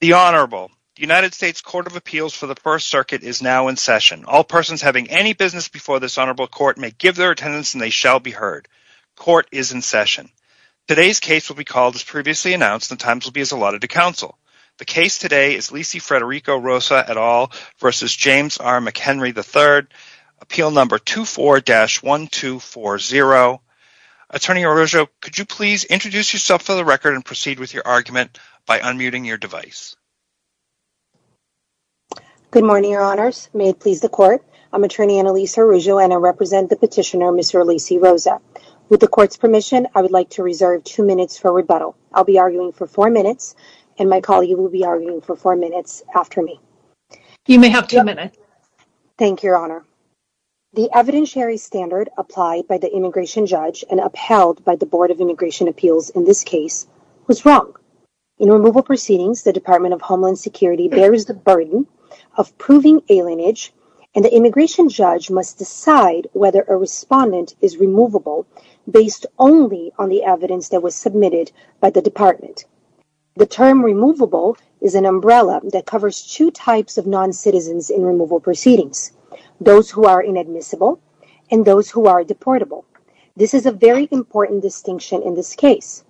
The Honorable. The United States Court of Appeals for the First Circuit is now in session. All persons having any business before this Honorable Court may give their attendance and they shall be heard. Court is in session. Today's case will be called as previously announced and times will be as allotted to counsel. The case today is Lisey Federico Rosa et al. v. James R. McHenry III, appeal number 24-1240. Attorney Arroyo, could you please introduce yourself for the record and proceed with your argument by unmuting your device? Good morning, Your Honors. May it please the court, I'm Attorney Annalisa Arroyo and I represent the petitioner, Mr. Lisey Rosa. With the court's permission, I would like to reserve two minutes for rebuttal. I'll be arguing for four minutes and my colleague will be arguing for four minutes after me. You may have two minutes. Thank you, Your Honor. The evidentiary standard applied by the immigration judge and upheld by the Board of Immigration Appeals in this case was wrong. In removal proceedings, the Department of Homeland Security bears the burden of proving alienage and the immigration judge must decide whether a respondent is removable based only on the evidence that was submitted by the department. The term removable is an umbrella that covers two types of non-citizens in removal proceedings, those who are inadmissible and those who are deportable. This is a very important distinction in this case.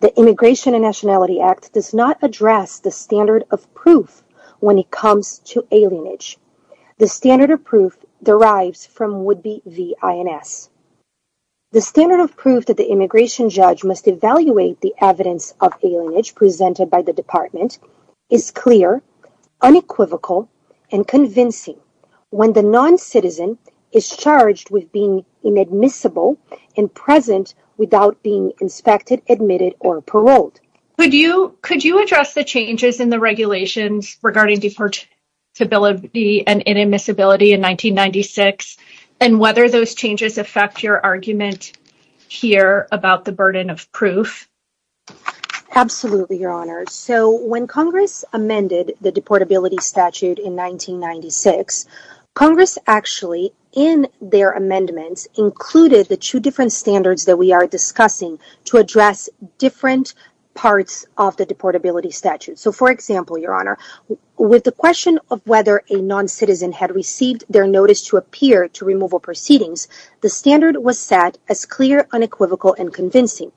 The Immigration and Nationality Act does not address the standard of proof when it comes to alienage. The standard of proof derives from Woodby v. INS. The standard of proof that the immigration judge must evaluate the evidence of alienage presented by the department is clear, unequivocal, and convincing when the non-citizen is charged with being inadmissible and present without being inspected, admitted, or paroled. Could you address the changes in the regulations regarding deportability and inadmissibility in 1996 and whether those changes affect your argument here about the burden of proof? Absolutely, Your Honor. So when Congress amended the deportability statute in 1996, Congress actually in their amendments included the two different standards that we are discussing to address different parts of the deportability statute. So for example, Your Honor, with the question of whether a non-citizen had received their notice to appear to removal proceedings, the standard was set as clear, unequivocal, and convincing.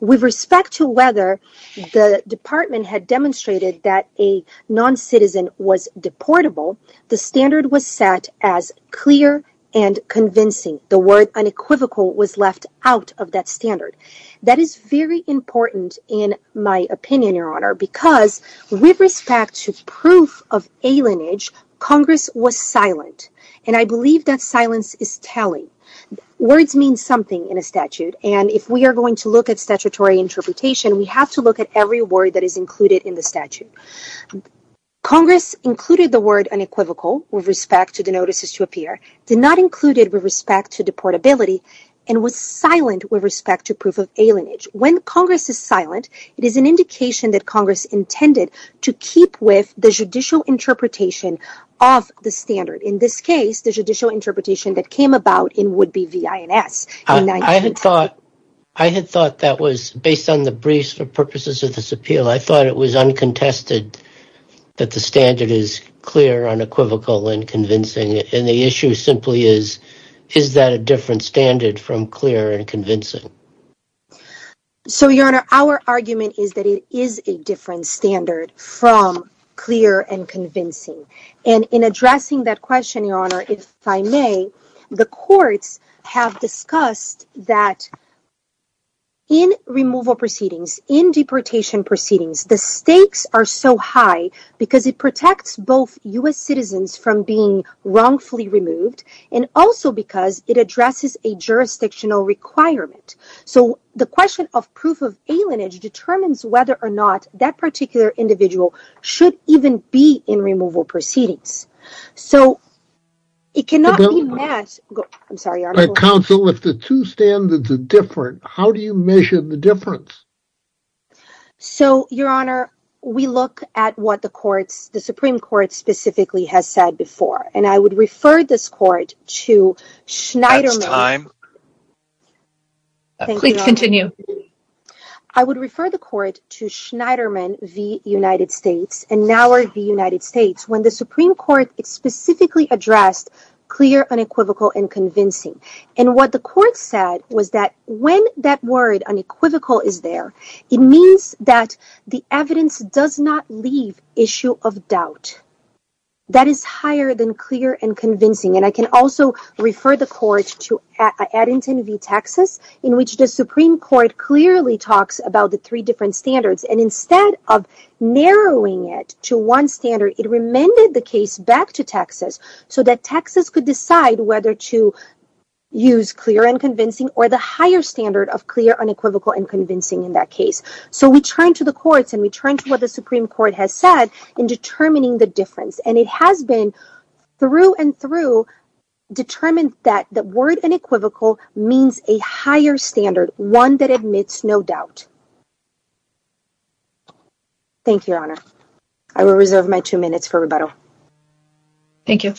With respect to whether the department had demonstrated that a non-citizen was deportable, the standard was set as clear and convincing. The word unequivocal was left out of that standard. That is very important in my opinion, Your Honor, because with respect to proof of alienage, Congress was silent, and I believe that silence is telling. Words mean something in a statute, and if we are going to look at statutory interpretation, we have to look at every word that is included in the statute. Congress included the word unequivocal with respect to the notices to appear, did not include it with respect to deportability, and was silent with respect to proof of alienage. When Congress is silent, it is an indication that Congress intended to keep with the judicial interpretation of the standard, in this case, the judicial interpretation that came about in would-be V.I.N.S. in 1996. I had thought that was, based on the briefs for purposes of this appeal, I thought it was uncontested that the standard is clear, unequivocal, and convincing, and the issue simply is, is that a different standard from clear and convincing? So Your Honor, our argument is that it is a different standard from clear and convincing, and in addressing that question, Your Honor, if I may, the courts have discussed that in removal proceedings, in deportation proceedings, the stakes are so high because it protects both U.S. citizens from being wrongfully removed, and also because it addresses a jurisdictional requirement. So the question of proof of alienage determines whether or not that particular individual should even be in removal proceedings. So it cannot be met... Counsel, if the two standards are different, how do you measure the difference? So Your Honor, we look at what the courts, the Supreme Court specifically, has said before, and I would refer this Court to Schneiderman v. Edgerton. And what the Court said was that when that word unequivocal is there, it means that the evidence does not leave issue of doubt. That is higher than clear and convincing, and I can also refer the Court to Addington v. Texas, in which the Supreme Court clearly talks about the three different standards, and instead of narrowing it to one standard, it remended the case back to Texas so that Texas could decide whether to use clear and convincing or the higher standard of clear, unequivocal, and convincing in that case. So we turn to the courts, and we turn to what the Supreme Court has said in determining the difference, and it has been through and through determined that the word unequivocal means a higher standard, one that admits no doubt. Thank you, Your Honor. I will reserve my two minutes for rebuttal. Thank you.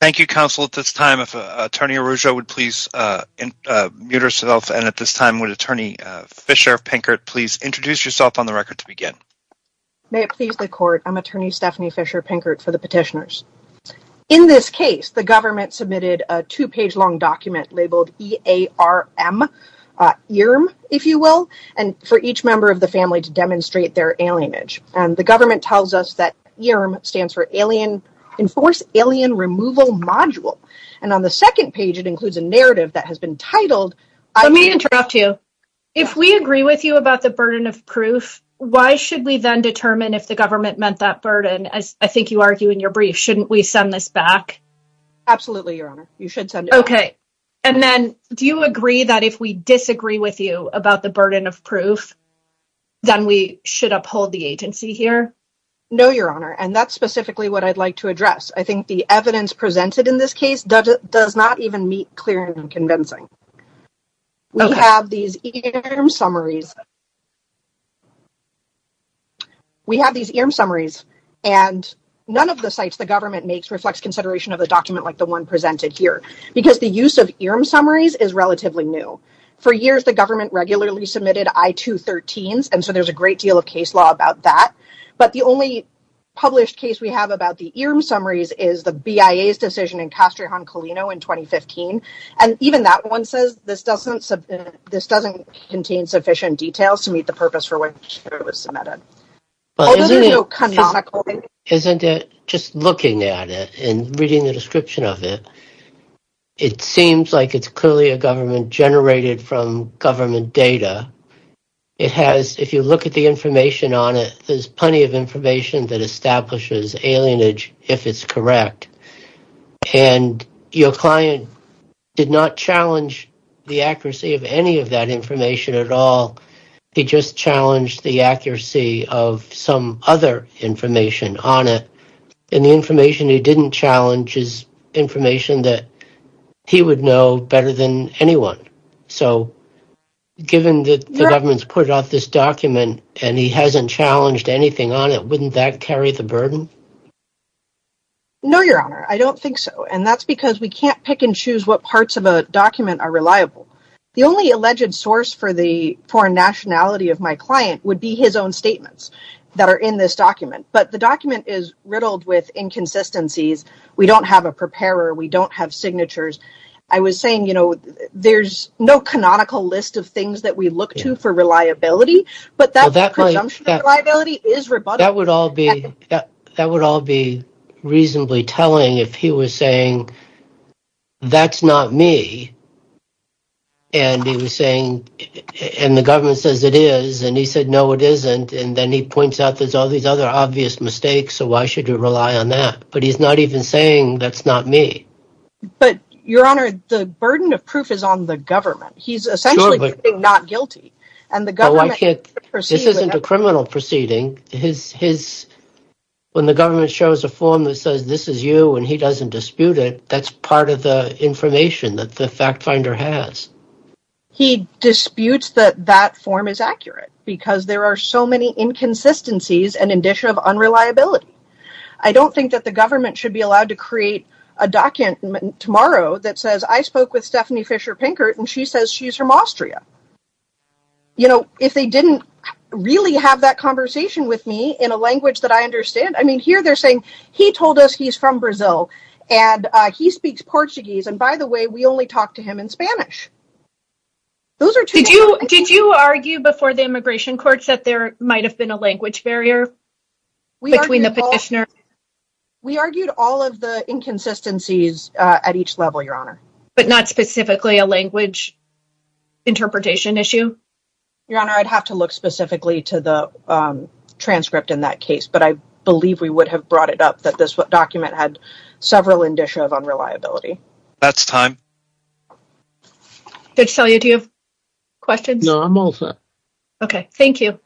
Thank you, Counsel. At this time, if Attorney Arrujo would please mute herself, and at this time, would Attorney Fisher-Pinkert please introduce yourself on the record to begin? May it please the Court, I'm Attorney Stephanie Fisher-Pinkert for the Petitioners. In this case, the government submitted a two-page long document labeled E-A-R-M, ERM, if you will, and for each member of the family to demonstrate their alienage. And the government tells us that ERM stands for alien, Enforce Alien Removal Module. And on the second page, it includes a narrative that has been titled — Let me interrupt you. If we agree with you about the burden of proof, why should we then determine if the government meant that burden? I think you argue in your brief, shouldn't we send this back? Absolutely, Your Honor. You should send it back. Okay. And then, do you agree that if we disagree with you about the burden of proof, then we should uphold the agency here? No, Your Honor, and that's specifically what I'd like to address. I think the evidence presented in this case does not even meet clear and convincing. We have these ERM summaries. We have these ERM summaries, and none of the sites the government makes reflects consideration of a document like the one presented here, because the use of ERM summaries is relatively new. For years, the government regularly submitted I-213s, and so there's a great deal of case law about that. But the only published case we have about the ERM summaries is the BIA's decision in Castrejon-Colino in 2015, and even that one says this doesn't contain sufficient details to meet the purpose for which it was submitted. Isn't it, just looking at it and reading the description of it, it seems like it's clearly a government generated from government data. It has, if you look at the information on it, there's plenty of information that establishes alienage, if it's correct, and your client did not challenge the accuracy of any of that information at all. He just challenged the accuracy of some other information on it, and the information he didn't challenge is information that he would know better than anyone. So, given that the government's put out this document, and he hasn't challenged anything on it, wouldn't that carry the burden? No, Your Honor, I don't think so, and that's because we can't pick and choose what parts of document are reliable. The only alleged source for the foreign nationality of my client would be his own statements that are in this document, but the document is riddled with inconsistencies. We don't have a preparer. We don't have signatures. I was saying, you know, there's no canonical list of things that we look to for reliability, but that presumption of reliability is rebuttable. That would all be reasonably telling if he was saying, that's not me, and he was saying, and the government says it is, and he said, no, it isn't, and then he points out there's all these other obvious mistakes, so why should you rely on that? But he's not even saying that's not me. But, Your Honor, the burden of proof is on the government. He's essentially not guilty. This isn't a criminal proceeding. When the government shows a form that says, this is you, and he doesn't dispute it, that's part of the information that the fact finder has. He disputes that that form is accurate, because there are so many inconsistencies and indicia of unreliability. I don't think that the government should be allowed to create a document tomorrow that says, I spoke with Stephanie Fisher Pinkert, and she says she's from Austria. You know, if they didn't really have that conversation with me in a language that I understand, I mean, here they're saying, he told us he's from Brazil, and he speaks Portuguese, and by the way, we only talk to him in Spanish. Those are two different things. Did you argue before the immigration courts that there might have been a language barrier between the petitioner? We argued all of the inconsistencies at each level, Your Honor. But not specifically a language interpretation issue? Your Honor, I'd have to look specifically to the transcript in that case, but I believe we would have brought it up that this document had several indicia of unreliability. That's time. Did Celia, do you have questions? No, I'm all set. Okay, thank you.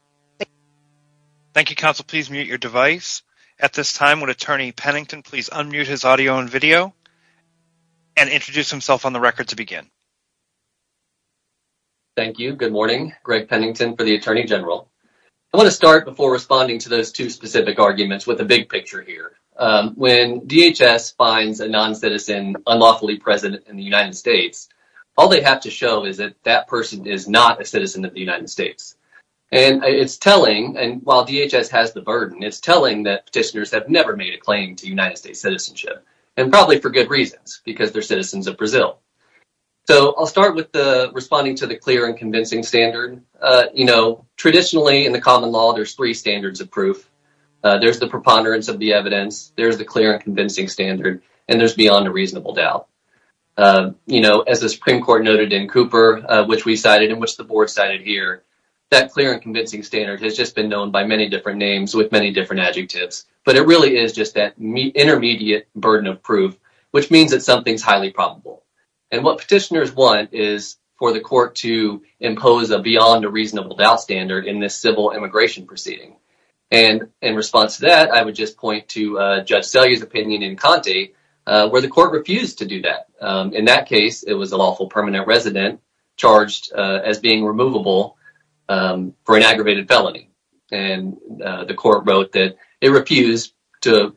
Thank you, counsel. Please mute your device. At this time, would Attorney Pennington please unmute his audio and video and introduce himself on the record to begin? Thank you. Good morning. Greg Pennington for the Attorney General. I want to start before responding to those two specific arguments with a big picture here. When DHS finds a non-citizen unlawfully president in the United States, all they have to show is that that person is not a citizen of the United States. And it's telling, and while DHS has the burden, it's telling that petitioners have never made a claim to United States citizenship, and probably for good reasons, because they're citizens of Brazil. So I'll start with the responding to the clear and convincing standard. You know, traditionally in the common law, there's three standards of proof. There's the preponderance of the evidence, there's the clear and convincing standard, and there's beyond reasonable doubt. You know, as the Supreme Court noted in Cooper, which we cited and which the board cited here, that clear and convincing standard has just been known by many different names with many different adjectives. But it really is just that intermediate burden of proof, which means that something's highly probable. And what petitioners want is for the court to impose a beyond a reasonable doubt standard in this civil immigration proceeding. And in response to that, I would just point to Judge Selye's opinion in Conte, where the court refused to do that. In that case, it was a lawful permanent resident charged as being removable for an aggravated felony. And the court wrote that it refused to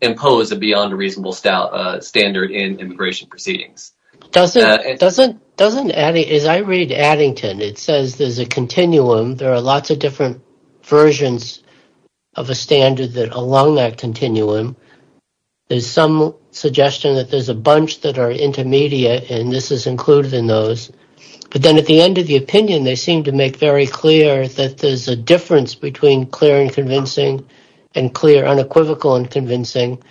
impose a beyond a reasonable standard in immigration proceedings. Doesn't, as I read Addington, it says there's a continuum, there are lots of different versions of a standard that along that continuum, there's some suggestion that there's a bunch that are intermediate, and this is included in those. But then at the end of the opinion, they seem to make very clear that there's a difference between clear and convincing, and clear unequivocal and convincing,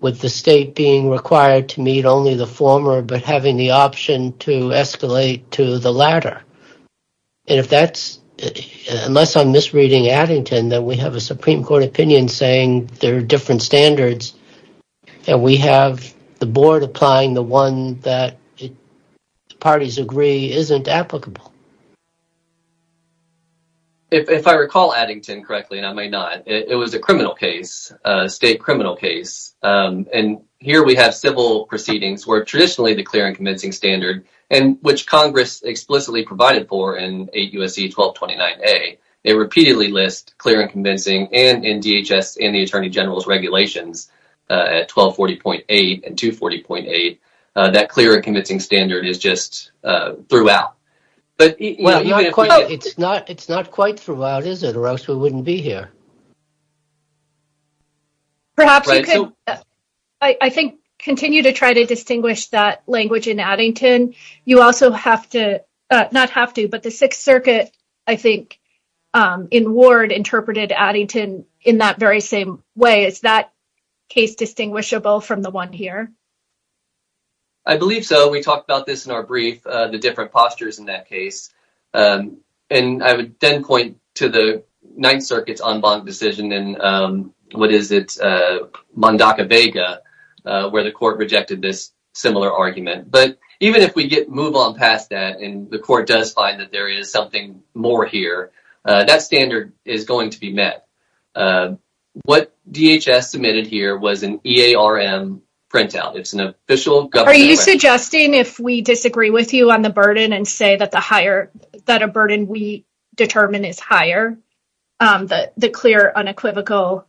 with the state being required to meet only the former, but having the option to escalate to the latter. And if that's, unless I'm misreading Addington, that we have a Supreme Court opinion saying there are different standards, and we have the board applying the one that parties agree isn't applicable. If I recall Addington correctly, and I might not, it was a criminal case, a state criminal case. And here we have civil proceedings where traditionally the clear and convincing standard, and which Congress explicitly provided for in 8 U.S.C. 1229a, they repeatedly list clear and convincing and in DHS and the Attorney General's regulations at 1240.8 and 240.8, that clear and convincing standard is just throughout. It's not quite throughout, is it? Or else we wouldn't be here. Perhaps you could, I think, continue to try to distinguish that language in Addington. You also have to, not have to, but the Sixth Circuit, I think, in Ward, interpreted Addington in that very same way. Is that case distinguishable from the one here? I believe so. We talked about this in our brief, the different postures in that case. And I would then point to the Ninth Circuit's en banc decision in, what is it, Mondaca-Vega, where the court rejected this similar argument. But even if we get, move on past that, and the court does find that there is something more here, that standard is going to be met. What DHS submitted here was an EARM printout. It's an official government... Suggesting if we disagree with you on the burden and say that the higher, that a burden we determine is higher, the clear, unequivocal,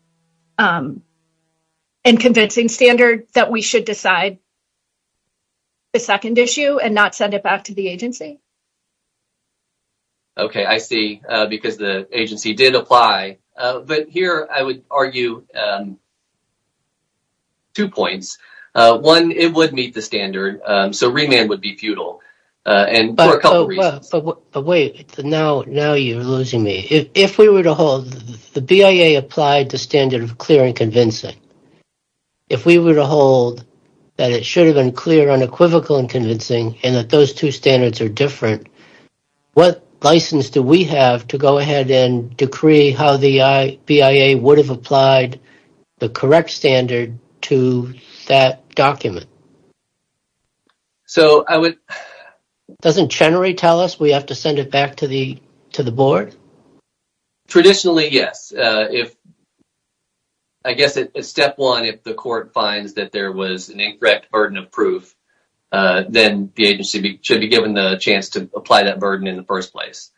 and convincing standard, that we should decide the second issue and not send it back to the agency? Okay, I see. Because the agency did apply. But here I would argue two points. One, it would meet the standard, so remand would be futile, and for a couple of reasons. But wait, now you're losing me. If we were to hold, the BIA applied the standard of clear and convincing. If we were to hold that it should have been clear, unequivocal, and convincing, and that those two standards are different, what license do we have to go ahead and decree how the BIA would have applied the correct standard to that document? So, I would... Doesn't generally tell us we have to send it back to the board? Traditionally, yes. If, I guess, step one, if the court finds that there was an incorrect burden of proof, then the agency should be given the chance to apply that burden in the first place.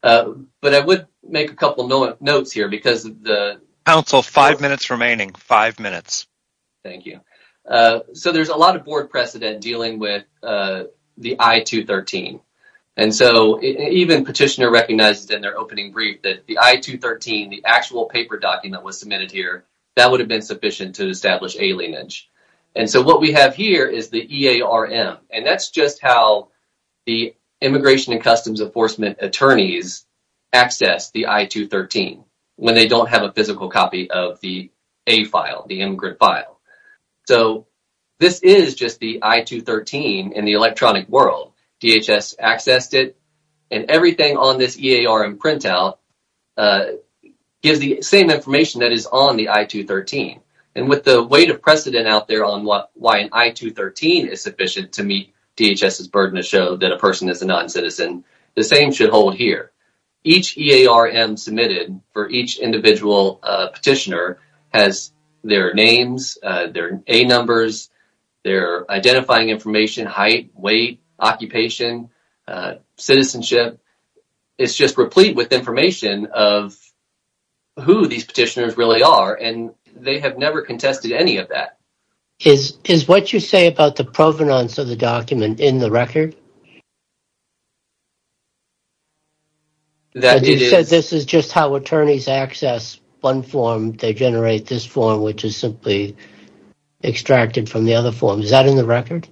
But I would make a couple of notes here because the... Counsel, five minutes remaining. Five minutes. Thank you. So, there's a lot of board precedent dealing with the I-213. And so, even Petitioner recognized in their opening brief that the I-213, the actual paper document that was submitted here, that would have been sufficient to establish alienage. And so, what we have here is the EARM, and that's just how the Immigration and Customs Enforcement attorneys access the I-213 when they don't have a physical copy of the A file, the immigrant file. So, this is just the I-213 in the electronic world. DHS accessed it, and everything on this EARM printout gives the same information that is on the I-213. And with the weight of precedent out there on why an I-213 is sufficient to meet DHS's burden to show that a person is a non-citizen, the same should hold here. Each EARM submitted for each individual petitioner has their names, their A numbers, their identifying information, height, weight, occupation, citizenship. It's just replete with information of who these petitioners really are, and they have never contested any of that. Is what you say about the provenance of the document in the record? You said this is just how attorneys access one form, they generate this form, which is simply extracted from the other forms. Is that in the record?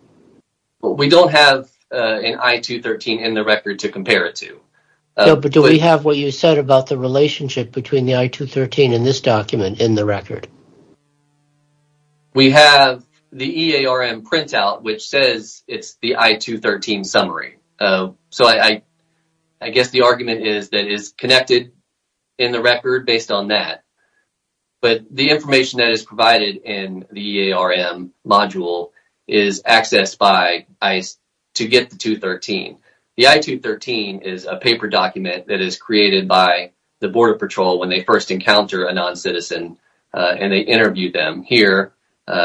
We don't have an I-213 in the record to compare it to. But do we have what you said about the relationship between the I-213 and this document in the record? We have the EARM printout, which says it's the I-213 summary. So, I guess the argument is that it's connected in the record based on that. But the information that is provided in the EARM module is accessed by ICE to get the 213. The I-213 is a paper document that is created by the Border Patrol when they first encounter a non-citizen and they interviewed them here.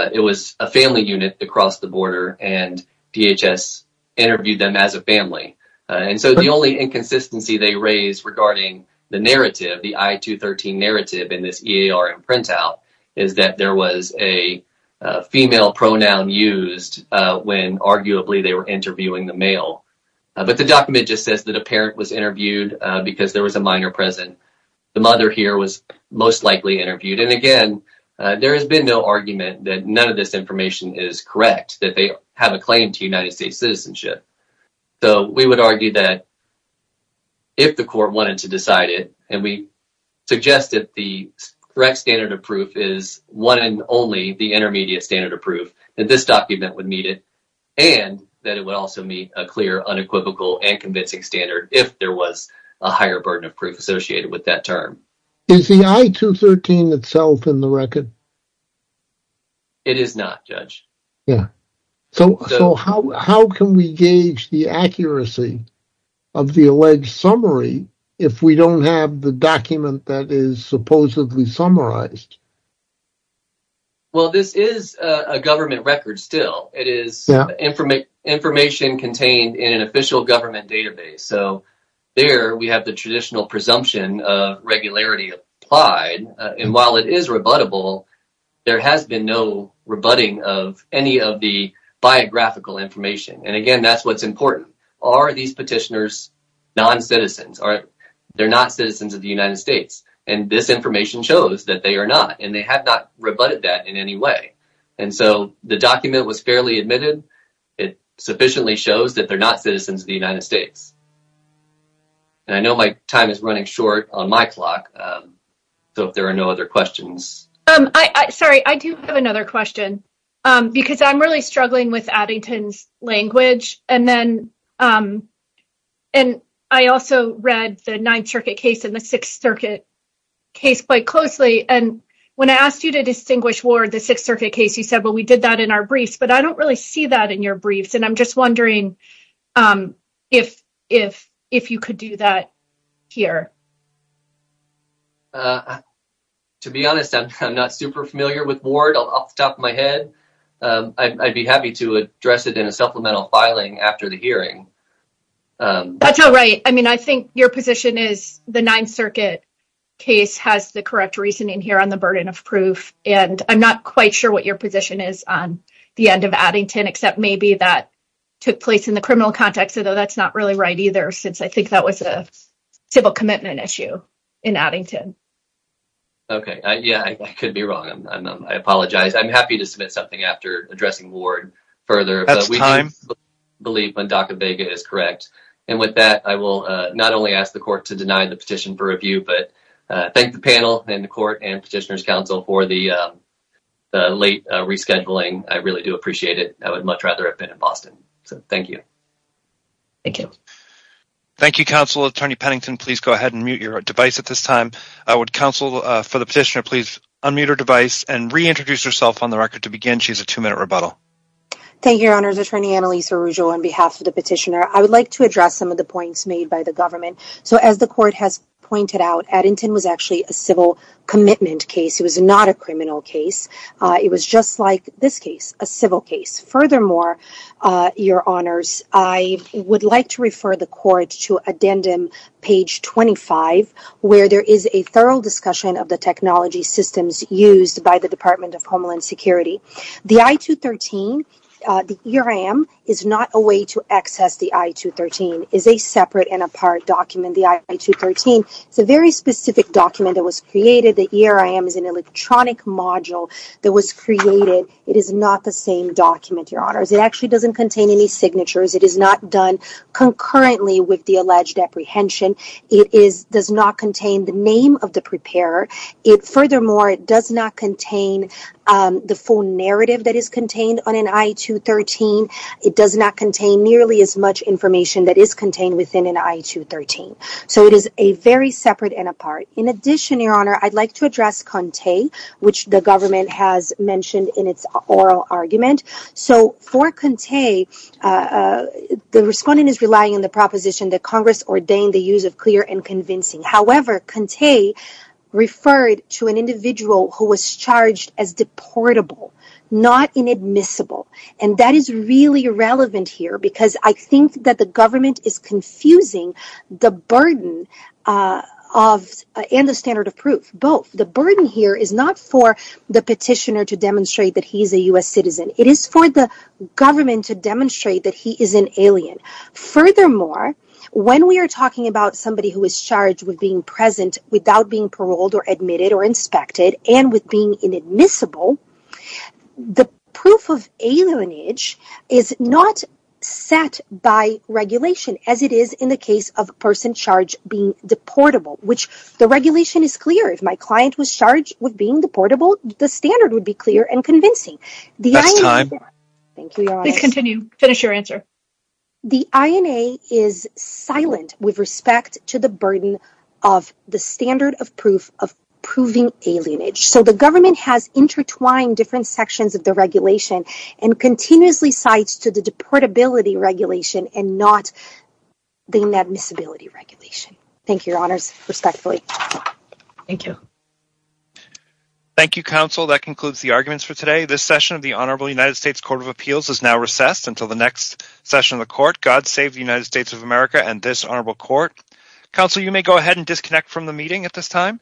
It was a family unit across the border and DHS interviewed them as a family. And so, the only inconsistency they raise regarding the narrative, the I-213 narrative in this EARM printout, is that there was a female pronoun used when arguably they were interviewing the male. But the document just says that a parent was interviewed because there was a minor present. The mother here was most likely interviewed. And again, there has been no argument that none of this information is correct, that they have a claim to United States citizenship. So, we would argue that if the court wanted to decide it, and we suggest that the correct standard of proof is one and only the intermediate standard of proof, that this document would meet it and that it would also meet a clear unequivocal and convincing standard if there was a higher burden of proof associated with that term. Is the I-213 itself in the record? It is not, Judge. Yeah. So, how can we gauge the accuracy of the alleged summary if we don't have the document that is supposedly summarized? Well, this is a government record still. It is information contained in an official government database. So, there we have the traditional presumption of regularity applied. And while it is rebuttable, there has been no rebutting of any of the biographical information. And again, that is what is important. Are these petitioners non-citizens? They are not citizens of the United States. And this information shows that they are not. And they have not rebutted that in any way. And so, the document was fairly admitted. It sufficiently shows that they are not citizens of the United States. And I know my time is running short on my clock. So, if there are no other questions. Sorry, I do have another question. Because I am really struggling with Addington's language. And I also read the Ninth Circuit case and the Sixth Circuit case quite closely. And when I asked you to distinguish Ward, the Sixth Circuit case, you said, well, we did that in our briefs. But I don't really see that in your briefs. And I am just wondering if you could do that here. To be honest, I am not super familiar with Ward off the top of my head. I would be happy to address it in a supplemental filing after the hearing. That is all right. I mean, I think your position is the Ninth Circuit case has the correct reasoning here on the burden of proof. And I am not quite sure what your position is on the end of Addington. Except maybe that took place in the criminal context. Although that is not really right either. Since I think that was a civil commitment issue in Addington. Okay. Yeah, I could be wrong. I apologize. I am happy to submit something after addressing Ward further. That is time. But we do believe Wendaka Vega is correct. And with that, I will not only ask the court to deny the petition for review, but thank the panel and the court and Petitioner's Council for the late rescheduling. I really do appreciate it. I would much rather have been in Boston. So, thank you. Thank you. Thank you, counsel. Attorney Pennington, please go ahead and mute your device at this time. Would counsel, for the petitioner, please unmute her device and reintroduce herself on the record to begin. She has a two-minute rebuttal. Thank you, your honors. Attorney Annalisa Ruggio on behalf of the petitioner. I would like to address some of the points made by the government. So, as the court has pointed out, Addington was actually a civil commitment case. It was not a criminal case. It was just like this case, a civil case. Furthermore, your honors, I would like to refer the court to addendum page 25, where there is a thorough discussion of the technology systems used by the Department of Homeland Security. The I-213, the ERM, is not a way to access the I-213. It is a separate and apart document, the I-213. It is a very specific document that was created. The ERM is an electronic module that was created. It is not the same document, your honors. It actually doesn't contain any signatures. It is not done concurrently with the alleged apprehension. It does not contain the name of the preparer. It furthermore does not contain the full narrative that is contained on an I-213. It does not contain nearly as much information that is contained within an I-213. So, it is a very separate and apart. In addition, your honor, I'd like to address Conte, which the government has mentioned in its oral argument. So, for Conte, the respondent is relying on the proposition that Congress ordained the use of clear and convincing. However, Conte referred to an individual who was charged as deportable, not inadmissible, and that is really irrelevant here because I think that the government is confusing the burden and the standard of proof, both. The burden here is not for the petitioner to demonstrate that he is an alien. Furthermore, when we are talking about somebody who is charged with being present without being paroled or admitted or inspected and with being inadmissible, the proof of alienage is not set by regulation as it is in the case of a person charged being deportable, which the regulation is clear. If my client was charged with being deportable, the standard would be clear and convincing. That's time. Thank you, your honor. Please continue. Finish your answer. The INA is silent with respect to the burden of the standard of proof of proving alienage. So, the government has intertwined different sections of the regulation and continuously cites to the deportability regulation and not the inadmissibility regulation. Thank you, your honors, respectfully. Thank you. Thank you, counsel. That concludes the arguments for today. This session of the Honorable United States Court of Appeals is now recessed. Until the next session of the court, God save the United States of America and this honorable court. Counsel, you may go ahead and disconnect from the meeting at this time.